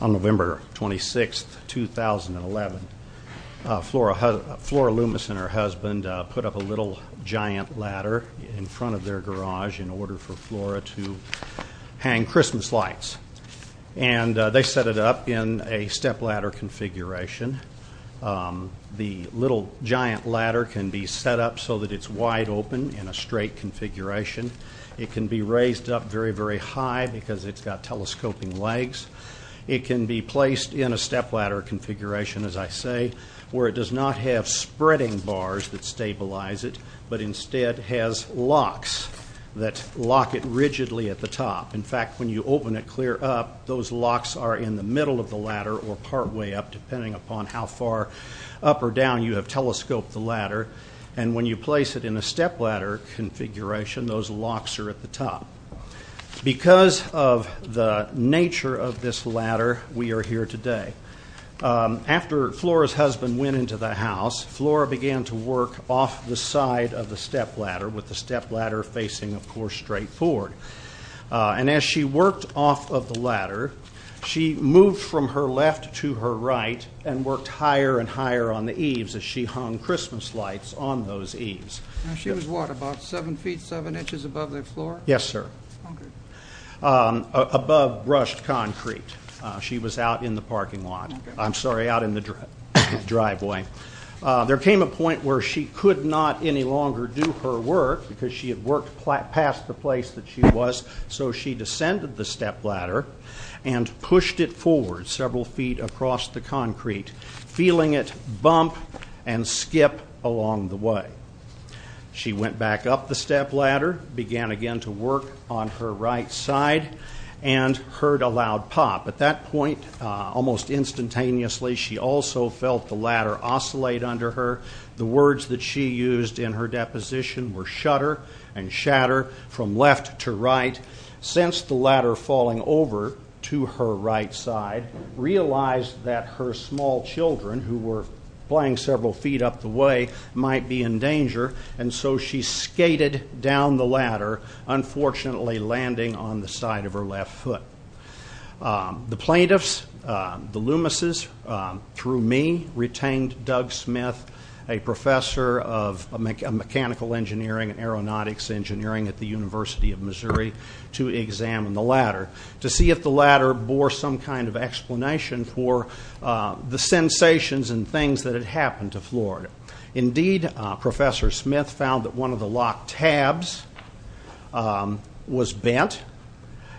On November 26, 2011, Flora Loomis and her husband put up a little giant ladder in front of their garage in order for Flora to hang Christmas lights. And they set it up in a step ladder configuration. The little giant ladder can be set up so that it's wide open in a straight configuration. It can be raised up very, very high because it's got telescoping legs. It can be placed in a step ladder configuration, as I say, where it does not have spreading bars that stabilize it, but instead has locks that lock it rigidly at the top. In fact, when you open it clear up, those locks are in the middle of the ladder or partway up, depending upon how far up or down you have telescoped the ladder. And when you place it in a step ladder configuration, those locks are at the top. Because of the nature of this ladder, we are here today. After Flora's husband went into the house, Flora began to work off the side of the step ladder, with the step ladder facing, of course, straight forward. And as she worked off of the ladder, she moved from her left to her right and worked higher and higher on the eaves as she hung Christmas lights on those eaves. She was what, about seven feet, seven inches above the floor? Yes, sir. Above brushed concrete. She was out in the parking lot. I'm sorry, out in the driveway. There came a point where she could not any longer do her work, because she had worked past the place that she was. So she descended the step ladder and pushed it forward several feet across the concrete, feeling it bump and skip along the way. She went back up the step ladder, began again to work on her right side, and heard a loud pop. At that point, almost instantaneously, she also felt the ladder oscillate under her. The words that she used in her deposition were shudder and shatter from left to right. Since the ladder falling over to her right side, realized that her small children, who were playing several feet up the way, might be in danger, and so she skated down the ladder, unfortunately landing on the side of her left foot. The plaintiffs, the Loomises, through me, retained Doug Smith, a professor of mechanical engineering and aeronautics engineering at the University of Missouri, to examine the ladder, to see if the ladder bore some kind of explanation for the sensations and things that had happened to Florida. Indeed, Professor Smith found that one of the locked tabs was bent,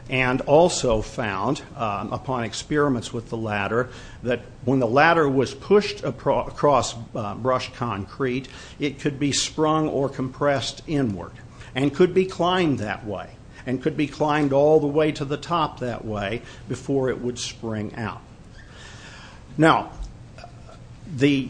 and also found, upon experiments with the ladder, that when the ladder was pushed across brushed concrete, it could be sprung or compressed inward, and could be climbed that way, and could be climbed all the way to the top that way, before it would spring out. Now, the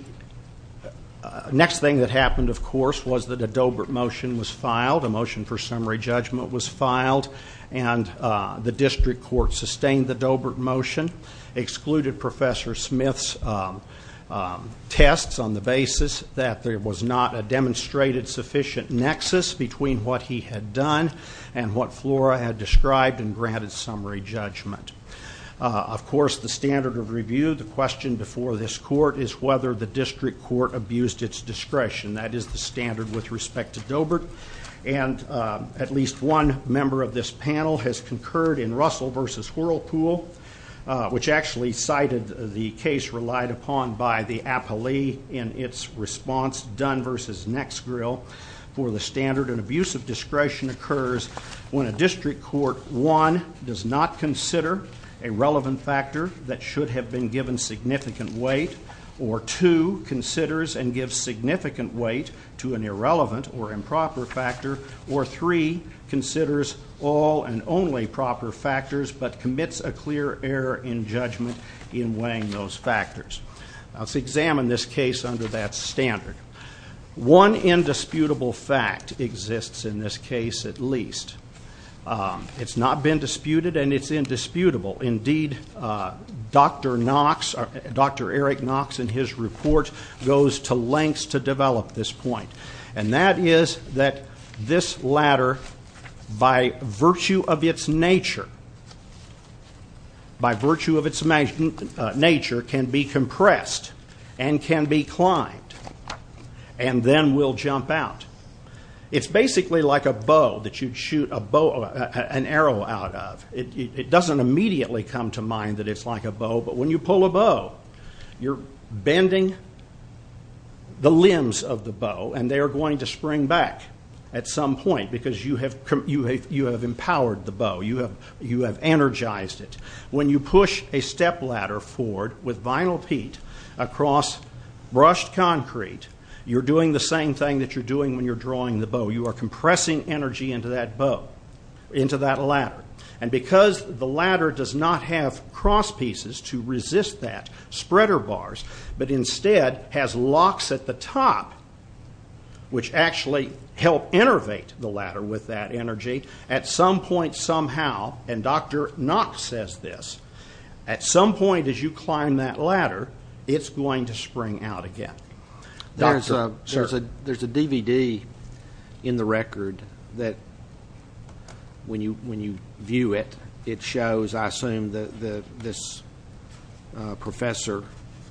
next thing that happened, of course, was that a Doebert motion was filed. A motion for summary judgment was filed, and the district court sustained the Doebert motion, excluded Professor Smith's tests on the basis that there was not a demonstrated sufficient nexus between what he had done and what Flora had described and granted summary judgment. Of course, the standard of review, the question before this court, is whether the district court abused its discretion. That is the standard with respect to Doebert, and at least one member of this panel has concurred in Russell v. Whirlpool, which actually cited the case relied upon by the appellee in its response, Dunn v. Nexgrill, where the standard in abuse of discretion occurs when a district court, one, does not consider a relevant factor that should have been given significant weight, or two, considers and gives significant weight to an irrelevant or improper factor, or three, considers all and only proper factors, but commits a clear error in judgment in weighing those factors. Let's examine this case under that standard. One indisputable fact exists in this case at least. It's not been disputed, and it's indisputable. Indeed, Dr. Knox, Dr. Eric Knox, in his report, goes to lengths to develop this point, and that is that this ladder, by virtue of its nature, can be compressed and can be climbed, and then will jump out. It's basically like a bow that you'd shoot an arrow out of. It doesn't immediately come to mind that it's like a bow, but when you pull a bow, you're bending the limbs of the bow, and they are going to spring back at some point, because you have empowered the bow. You have energized it. When you push a stepladder forward with vinyl peat across brushed concrete, you're doing the same thing that you're doing when you're drawing the bow. You are compressing energy into that ladder. And because the ladder does not have cross pieces to resist that, spreader bars, but instead has locks at the top, which actually help innervate the ladder with that energy, at some point somehow, and Dr. Knox says this, at some point as you climb that ladder, it's going to spring out again. There's a DVD in the record that when you view it, it shows, I assume, this professor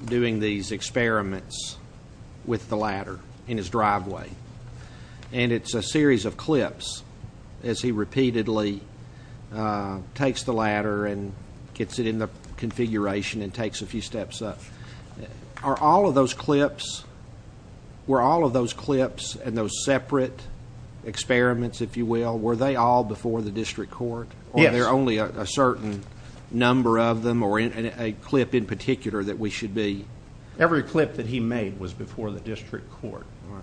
doing these experiments with the ladder in his driveway, and it's a series of clips as he repeatedly takes the ladder and gets it in the configuration and takes a few steps up. Are all of those clips, were all of those clips and those separate experiments, if you will, were they all before the district court? Yes. Or are there only a certain number of them or a clip in particular that we should be? Every clip that he made was before the district court. All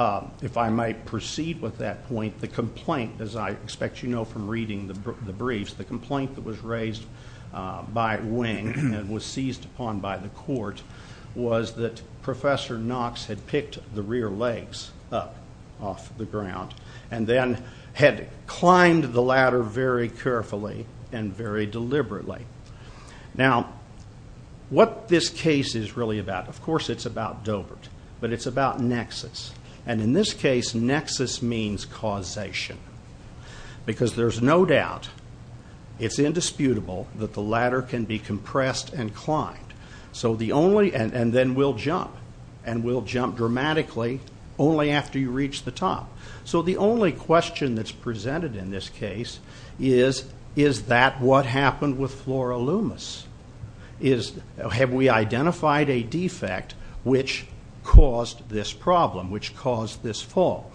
right. If I might proceed with that point, the complaint, as I expect you know from reading the briefs, the complaint that was raised by Wing and was seized upon by the court was that Professor Knox had picked the rear legs up off the ground and then had climbed the ladder very carefully and very deliberately. Now, what this case is really about, of course it's about Dovert, but it's about nexus, and in this case, nexus means causation, because there's no doubt, it's indisputable that the ladder can be compressed and climbed, and then we'll jump, and we'll jump dramatically only after you reach the top. So the only question that's presented in this case is, is that what happened with Flora Loomis? Have we identified a defect which caused this problem, which caused this fall?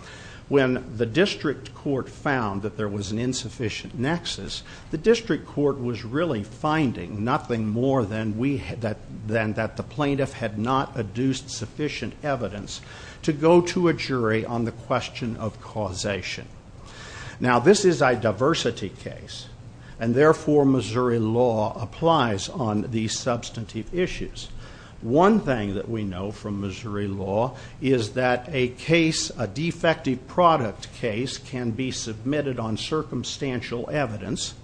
When the district court found that there was an insufficient nexus, the district court was really finding nothing more than that the plaintiff had not adduced sufficient evidence to go to a jury on the question of causation. Now, this is a diversity case, and therefore Missouri law applies on these substantive issues. One thing that we know from Missouri law is that a case, a defective product case, can be submitted on circumstantial evidence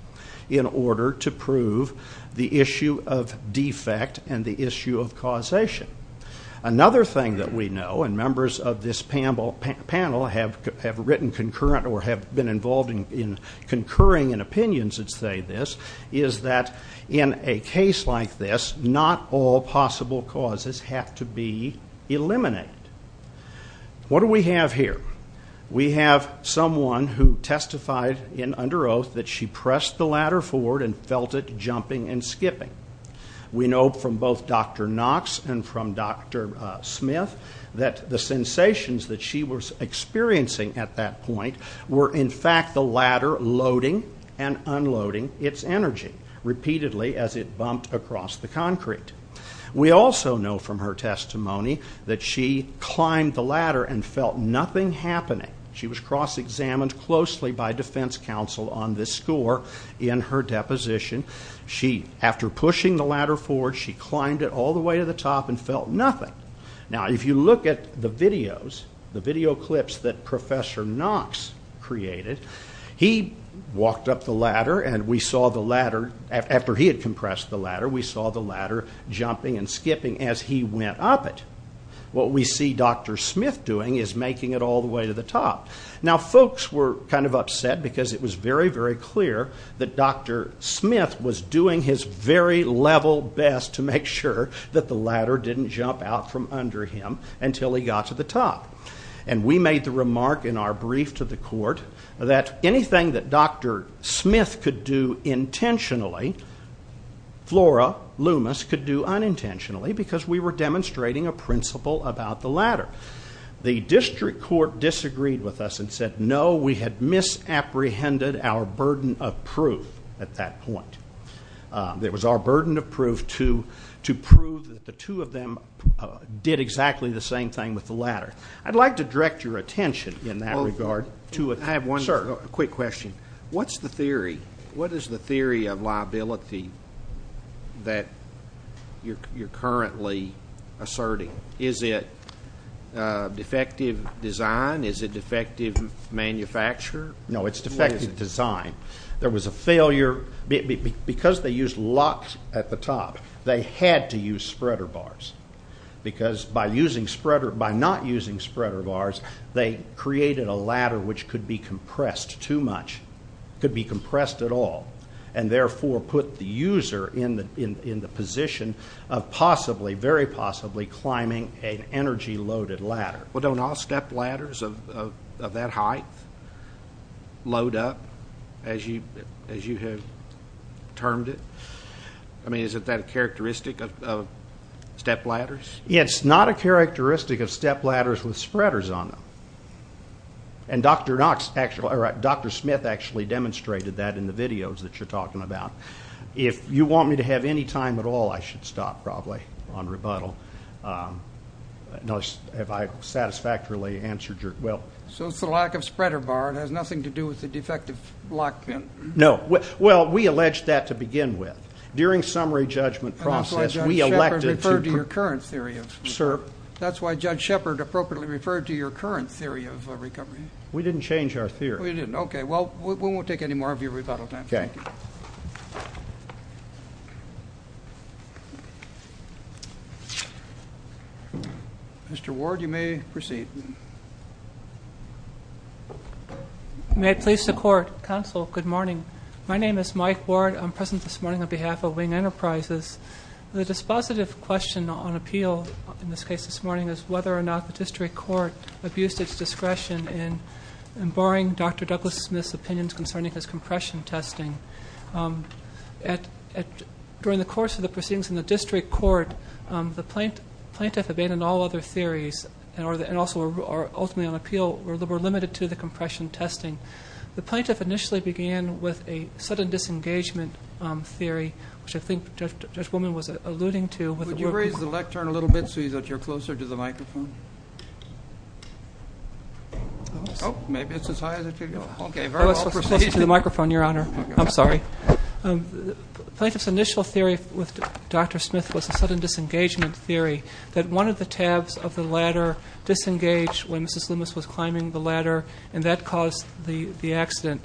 in order to prove the issue of defect and the issue of causation. Another thing that we know, and members of this panel have written concurrent or have been involved in concurring in opinions that say this, is that in a case like this, not all possible causes have to be eliminated. What do we have here? We have someone who testified under oath that she pressed the ladder forward and felt it jumping and skipping. We know from both Dr. Knox and from Dr. Smith that the sensations that she was experiencing at that point were in fact the ladder loading and unloading its energy, repeatedly as it bumped across the concrete. We also know from her testimony that she climbed the ladder and felt nothing happening. She was cross-examined closely by defense counsel on this score in her deposition. She, after pushing the ladder forward, she climbed it all the way to the top and felt nothing. Now if you look at the videos, the video clips that Professor Knox created, he walked up the ladder and we saw the ladder, after he had compressed the ladder, we saw the ladder jumping and skipping as he went up it. What we see Dr. Smith doing is making it all the way to the top. Now folks were kind of upset because it was very, very clear that Dr. Smith was doing his very level best to make sure that the ladder didn't jump out from under him until he got to the top. And we made the remark in our brief to the court that anything that Dr. Smith could do intentionally, Flora Loomis could do unintentionally because we were demonstrating a principle about the ladder. The district court disagreed with us and said no, we had misapprehended our burden of proof at that point. It was our burden of proof to prove that the two of them did exactly the same thing with the ladder. I'd like to direct your attention in that regard. I have one quick question. What's the theory? What is the theory of liability that you're currently asserting? Is it defective design? Is it defective manufacture? No, it's defective design. There was a failure because they used lots at the top. They had to use spreader bars because by not using spreader bars, they created a ladder which could be compressed too much, could be compressed at all, and therefore put the user in the position of possibly, very possibly, climbing an energy-loaded ladder. Well, don't all stepladders of that height load up as you have termed it? I mean, is it that characteristic of stepladders? It's not a characteristic of stepladders with spreaders on them. And Dr. Smith actually demonstrated that in the videos that you're talking about. If you want me to have any time at all, I should stop probably on rebuttal. No, have I satisfactorily answered your question? So it's the lack of spreader bar. It has nothing to do with the defective lock pin. No. Well, we alleged that to begin with. During summary judgment process, we elected to- And that's why Judge Shepard referred to your current theory of recovery. Sir? That's why Judge Shepard appropriately referred to your current theory of recovery. We didn't change our theory. We didn't. Okay. Well, we won't take any more of your rebuttal time. Okay. Thank you. Mr. Ward, you may proceed. May it please the Court. Counsel, good morning. My name is Mike Ward. I'm present this morning on behalf of Wing Enterprises. The dispositive question on appeal in this case this morning is whether or not the district court abused its discretion in barring Dr. Douglas Smith's opinions concerning his compression testing. During the course of the proceedings in the district court, the plaintiff abandoned all other theories and also ultimately on appeal were limited to the compression testing. The plaintiff initially began with a sudden disengagement theory, which I think Judge Woman was alluding to. Would you raise the lectern a little bit so that you're closer to the microphone? Oh, maybe it's as high as it could go. Okay. Very well. I'm closer to the microphone, Your Honor. I'm sorry. The plaintiff's initial theory with Dr. Smith was a sudden disengagement theory that one of the tabs of the ladder disengaged when Mrs. Loomis was climbing the ladder, and that caused the accident.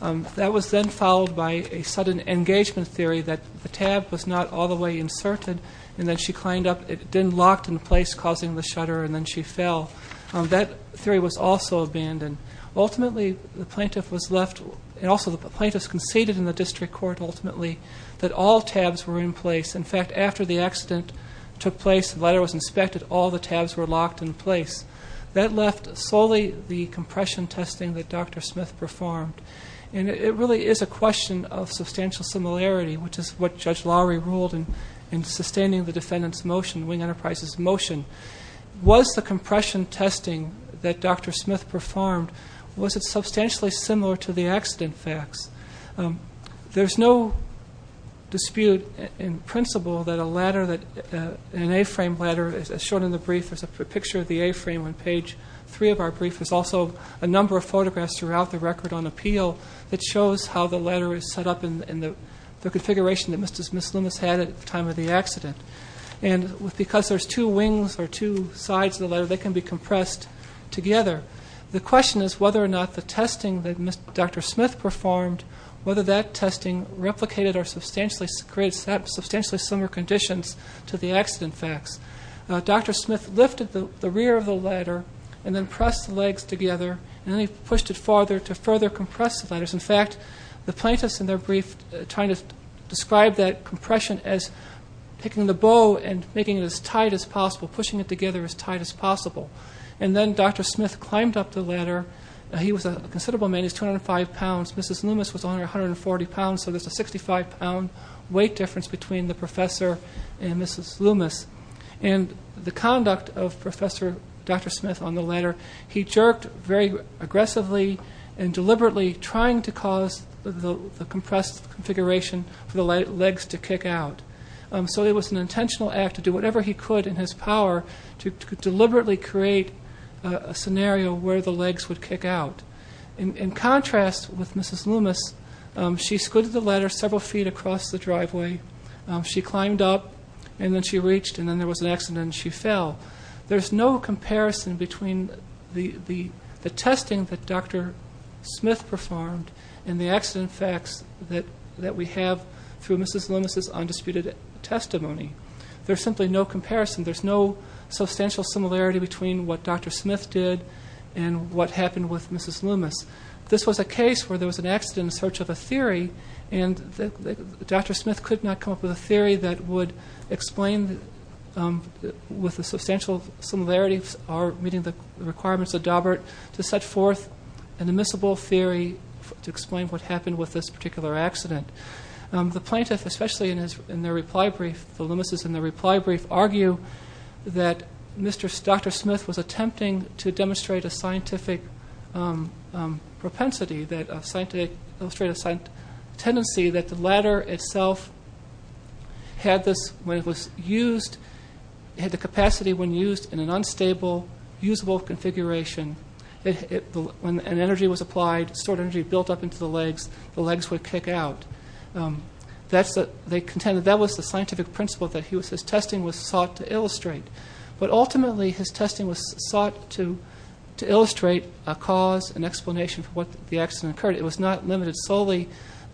That was then followed by a sudden engagement theory that the tab was not all the way inserted, and then she climbed up, it didn't lock in place, causing the shutter, and then she fell. That theory was also abandoned. Ultimately, the plaintiff was left, and also the plaintiff conceded in the district court ultimately, that all tabs were in place. In fact, after the accident took place, the ladder was inspected, all the tabs were locked in place. That left solely the compression testing that Dr. Smith performed, and it really is a question of substantial similarity, which is what Judge Lowry ruled in sustaining the defendant's motion, Wing Enterprises' motion. Was the compression testing that Dr. Smith performed, was it substantially similar to the accident facts? There's no dispute in principle that an A-frame ladder, as shown in the brief, there's a picture of the A-frame on page three of our brief, there's also a number of photographs throughout the record on appeal that shows how the ladder is set up in the configuration that Mrs. Loomis had at the time of the accident. And because there's two wings or two sides of the ladder, they can be compressed together. The question is whether or not the testing that Dr. Smith performed, whether that testing replicated or created substantially similar conditions to the accident facts. Dr. Smith lifted the rear of the ladder and then pressed the legs together, and then he pushed it farther to further compress the ladders. In fact, the plaintiffs in their brief tried to describe that compression as picking the bow and making it as tight as possible, pushing it together as tight as possible. And then Dr. Smith climbed up the ladder. He was a considerable man, he was 205 pounds, Mrs. Loomis was only 140 pounds, so there's a 65-pound weight difference between the professor and Mrs. Loomis. However, he jerked very aggressively and deliberately, trying to cause the compressed configuration for the legs to kick out. So it was an intentional act to do whatever he could in his power to deliberately create a scenario where the legs would kick out. In contrast with Mrs. Loomis, she scooted the ladder several feet across the driveway, she climbed up and then she reached and then there was an accident and she fell. There's no comparison between the testing that Dr. Smith performed and the accident facts that we have through Mrs. Loomis' undisputed testimony. There's simply no comparison. There's no substantial similarity between what Dr. Smith did and what happened with Mrs. Loomis. This was a case where there was an accident in search of a theory, and Dr. Smith could not come up with a theory that would explain with a substantial similarity or meeting the requirements of Daubert to set forth an admissible theory to explain what happened with this particular accident. The plaintiff, especially in their reply brief, the Loomis' in their reply brief, argue that Dr. Smith was attempting to demonstrate a scientific propensity, to illustrate a tendency that the ladder itself had this, when it was used, it had the capacity when used in an unstable, usable configuration, when an energy was applied, stored energy built up into the legs, the legs would kick out. They contended that was the scientific principle that his testing was sought to illustrate. But ultimately his testing was sought to illustrate a cause, an explanation for what the accident occurred. It was not limited solely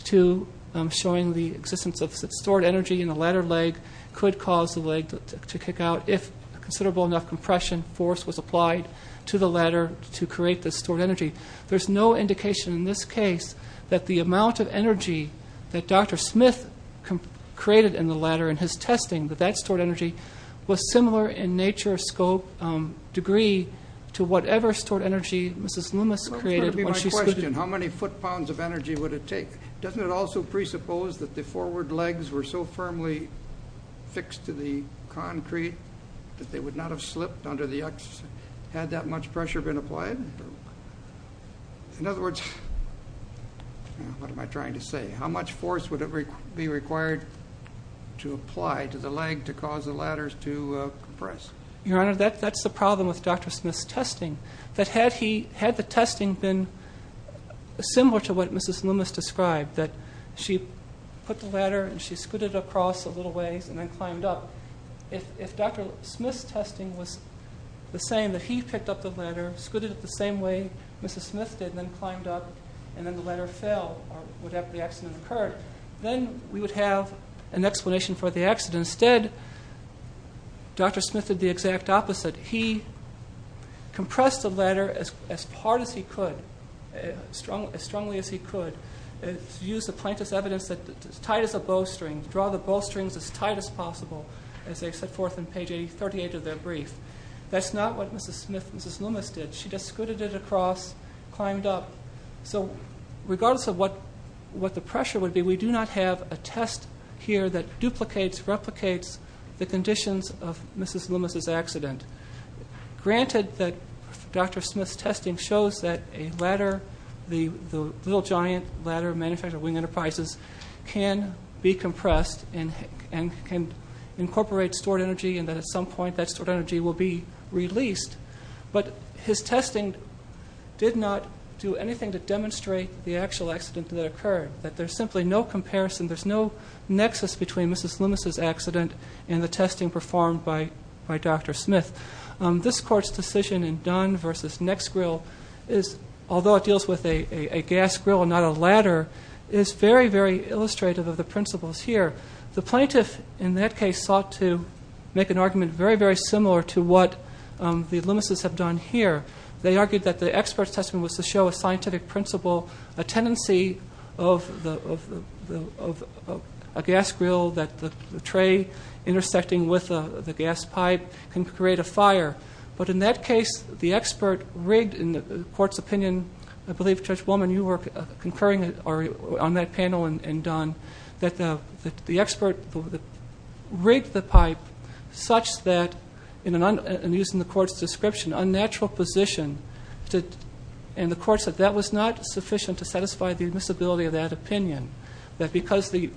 to showing the existence of stored energy in the ladder leg could cause the leg to kick out if considerable enough compression force was applied to the ladder to create this stored energy. There's no indication in this case that the amount of energy that Dr. Smith created in the ladder in his testing, that that stored energy was similar in nature, scope, degree, to whatever stored energy Mrs. Loomis created. That's going to be my question, how many foot-pounds of energy would it take? Doesn't it also presuppose that the forward legs were so firmly fixed to the concrete that they would not have slipped under the, had that much pressure been applied? In other words, what am I trying to say? How much force would be required to apply to the leg to cause the ladders to compress? Your Honor, that's the problem with Dr. Smith's testing. Had the testing been similar to what Mrs. Loomis described, that she put the ladder and she scooted across a little ways and then climbed up, if Dr. Smith's testing was the same, that he picked up the ladder, scooted it the same way Mrs. Smith did and then climbed up, and then the ladder fell, or whatever the accident occurred, then we would have an explanation for the accident. Instead, Dr. Smith did the exact opposite. He compressed the ladder as hard as he could, as strongly as he could, used the plaintiff's evidence that as tight as a bowstring, draw the bowstrings as tight as possible, as they set forth in page 38 of their brief. That's not what Mrs. Smith, Mrs. Loomis did. She just scooted it across, climbed up. So regardless of what the pressure would be, we do not have a test here that duplicates, replicates the conditions of Mrs. Loomis' accident. Granted that Dr. Smith's testing shows that a ladder, the little giant ladder manufactured at Wing Enterprises, can be compressed and can incorporate stored energy and that at some point that stored energy will be released, but his testing did not do anything to demonstrate the actual accident that occurred, that there's simply no comparison, there's no nexus between Mrs. Loomis' accident and the testing performed by Dr. Smith. This court's decision in Dunn v. Nexgrill is, although it deals with a gas grill and not a ladder, is very, very illustrative of the principles here. The plaintiff, in that case, sought to make an argument very, very similar to what the Loomis' have done here. They argued that the expert's testing was to show a scientific principle, a tendency of a gas grill that the tray intersecting with the gas pipe can create a fire. But in that case, the expert rigged, in the court's opinion, I believe, Judge Woolman, you were concurring on that panel in Dunn, that the expert rigged the pipe such that, in using the court's description, unnatural position, and the court said that was not sufficient to satisfy the admissibility of that opinion, that because the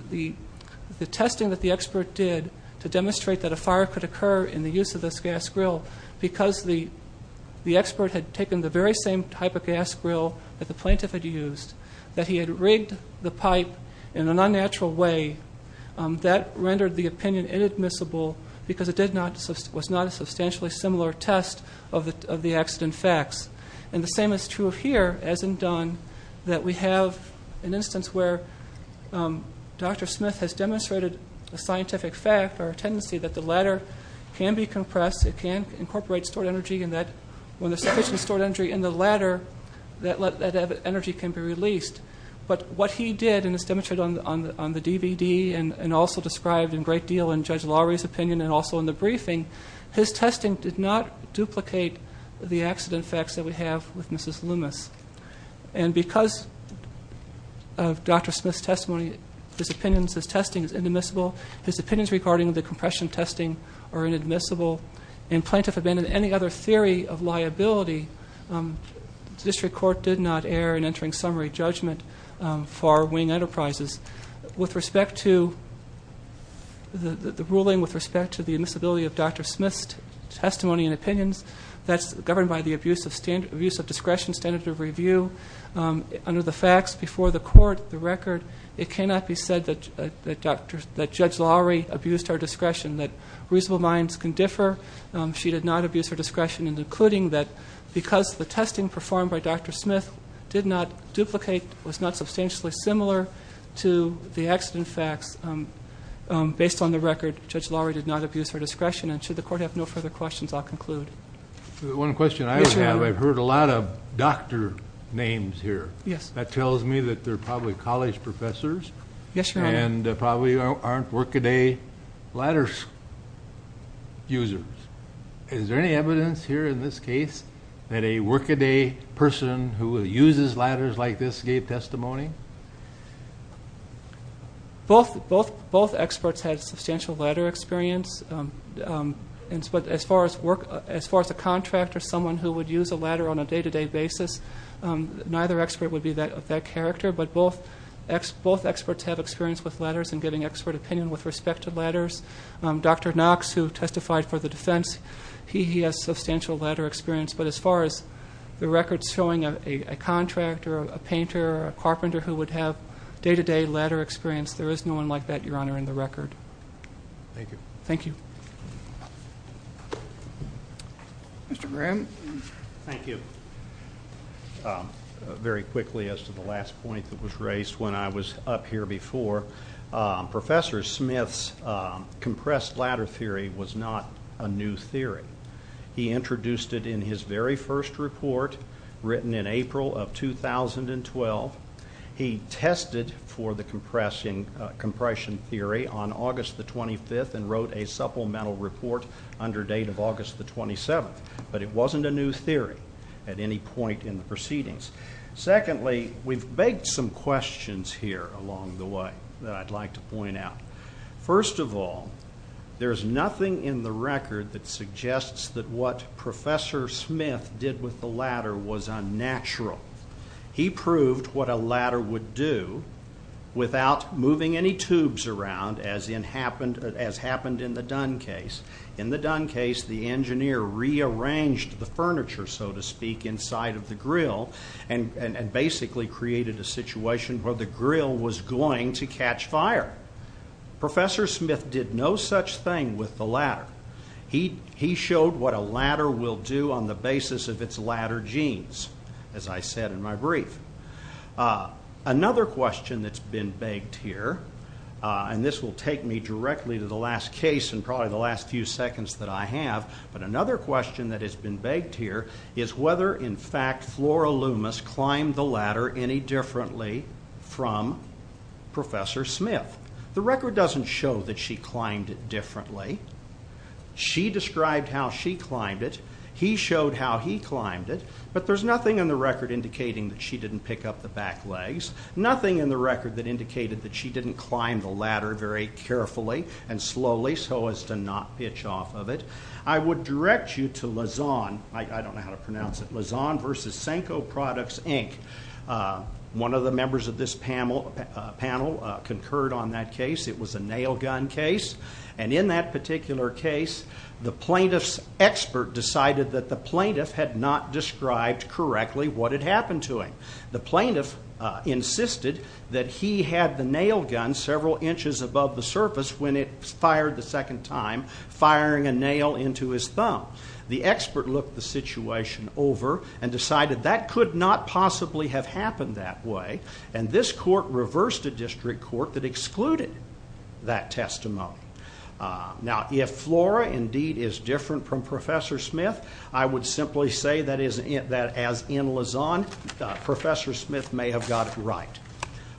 testing that the expert did to demonstrate that a fire could occur in the use of this gas grill, because the expert had taken the very same type of gas grill that the plaintiff had used, that he had rigged the pipe in an unnatural way, that rendered the opinion inadmissible because it was not a substantially similar test of the accident facts. And the same is true here, as in Dunn, that we have an instance where Dr. Smith has demonstrated a scientific fact or a tendency that the ladder can be compressed, it can incorporate stored energy, and that when there's sufficient stored energy in the ladder, that energy can be released. But what he did, and it's demonstrated on the DVD and also described in great deal in Judge Lowry's opinion and also in the briefing, his testing did not duplicate the accident facts that we have with Mrs. Loomis. And because of Dr. Smith's testimony, his opinions, his testing is inadmissible, his opinions regarding the compression testing are inadmissible, and the plaintiff abandoned any other theory of liability. The district court did not err in entering summary judgment for our wing enterprises. With respect to the ruling with respect to the admissibility of Dr. Smith's testimony and opinions, that's governed by the abuse of discretion, standard of review. Under the facts before the court, the record, it cannot be said that Judge Lowry abused her discretion, that reasonable minds can differ, she did not abuse her discretion, including that because the testing performed by Dr. Smith did not duplicate, was not substantially similar to the accident facts based on the record, Judge Lowry did not abuse her discretion. And should the court have no further questions, I'll conclude. One question I have, I've heard a lot of doctor names here. Yes. That tells me that they're probably college professors. Yes, Your Honor. And probably aren't workaday ladder users. Is there any evidence here in this case that a workaday person who uses ladders like this gave testimony? Both experts had substantial ladder experience, but as far as a contractor, someone who would use a ladder on a day-to-day basis, neither expert would be of that character, but both experts have experience with ladders and giving expert opinion with respect to ladders. Dr. Knox, who testified for the defense, he has substantial ladder experience, but as far as the records showing a contractor, a painter, a carpenter who would have day-to-day ladder experience, there is no one like that, Your Honor, in the record. Thank you. Thank you. Mr. Graham. Thank you. Very quickly as to the last point that was raised when I was up here before, Professor Smith's compressed ladder theory was not a new theory. He introduced it in his very first report written in April of 2012. He tested for the compression theory on August the 25th and wrote a supplemental report under date of August the 27th, but it wasn't a new theory at any point in the proceedings. Secondly, we've begged some questions here along the way that I'd like to point out. First of all, there's nothing in the record that suggests that what Professor Smith did with the ladder was unnatural. He proved what a ladder would do without moving any tubes around, as happened in the Dunn case. In the Dunn case, the engineer rearranged the furniture, so to speak, inside of the grill and basically created a situation where the grill was going to catch fire. Professor Smith did no such thing with the ladder. He showed what a ladder will do on the basis of its ladder genes, as I said in my brief. Another question that's been begged here, and this will take me directly to the last case and probably the last few seconds that I have, but another question that has been begged here is whether, in fact, Flora Loomis climbed the ladder any differently from Professor Smith. The record doesn't show that she climbed it differently. She described how she climbed it, he showed how he climbed it, but there's nothing in the record indicating that she didn't pick up the back legs, nothing in the record that indicated that she didn't climb the ladder very carefully and slowly so as to not pitch off of it. I would direct you to Lazon, I don't know how to pronounce it, Lazon v. Senko Products, Inc. One of the members of this panel concurred on that case. It was a nail gun case, and in that particular case, the plaintiff's expert decided that the plaintiff had not described correctly what had happened to him. The plaintiff insisted that he had the nail gun several inches above the surface when it fired the second time, firing a nail into his thumb. The expert looked the situation over and decided that could not possibly have happened that way, and this court reversed a district court that excluded that testimony. Now, if Flora indeed is different from Professor Smith, I would simply say that as in Lazon, Professor Smith may have got it right.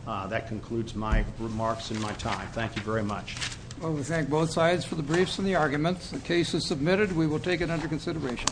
That concludes my remarks and my time. Thank you very much. Well, we thank both sides for the briefs and the arguments. The case is submitted. We will take it under consideration.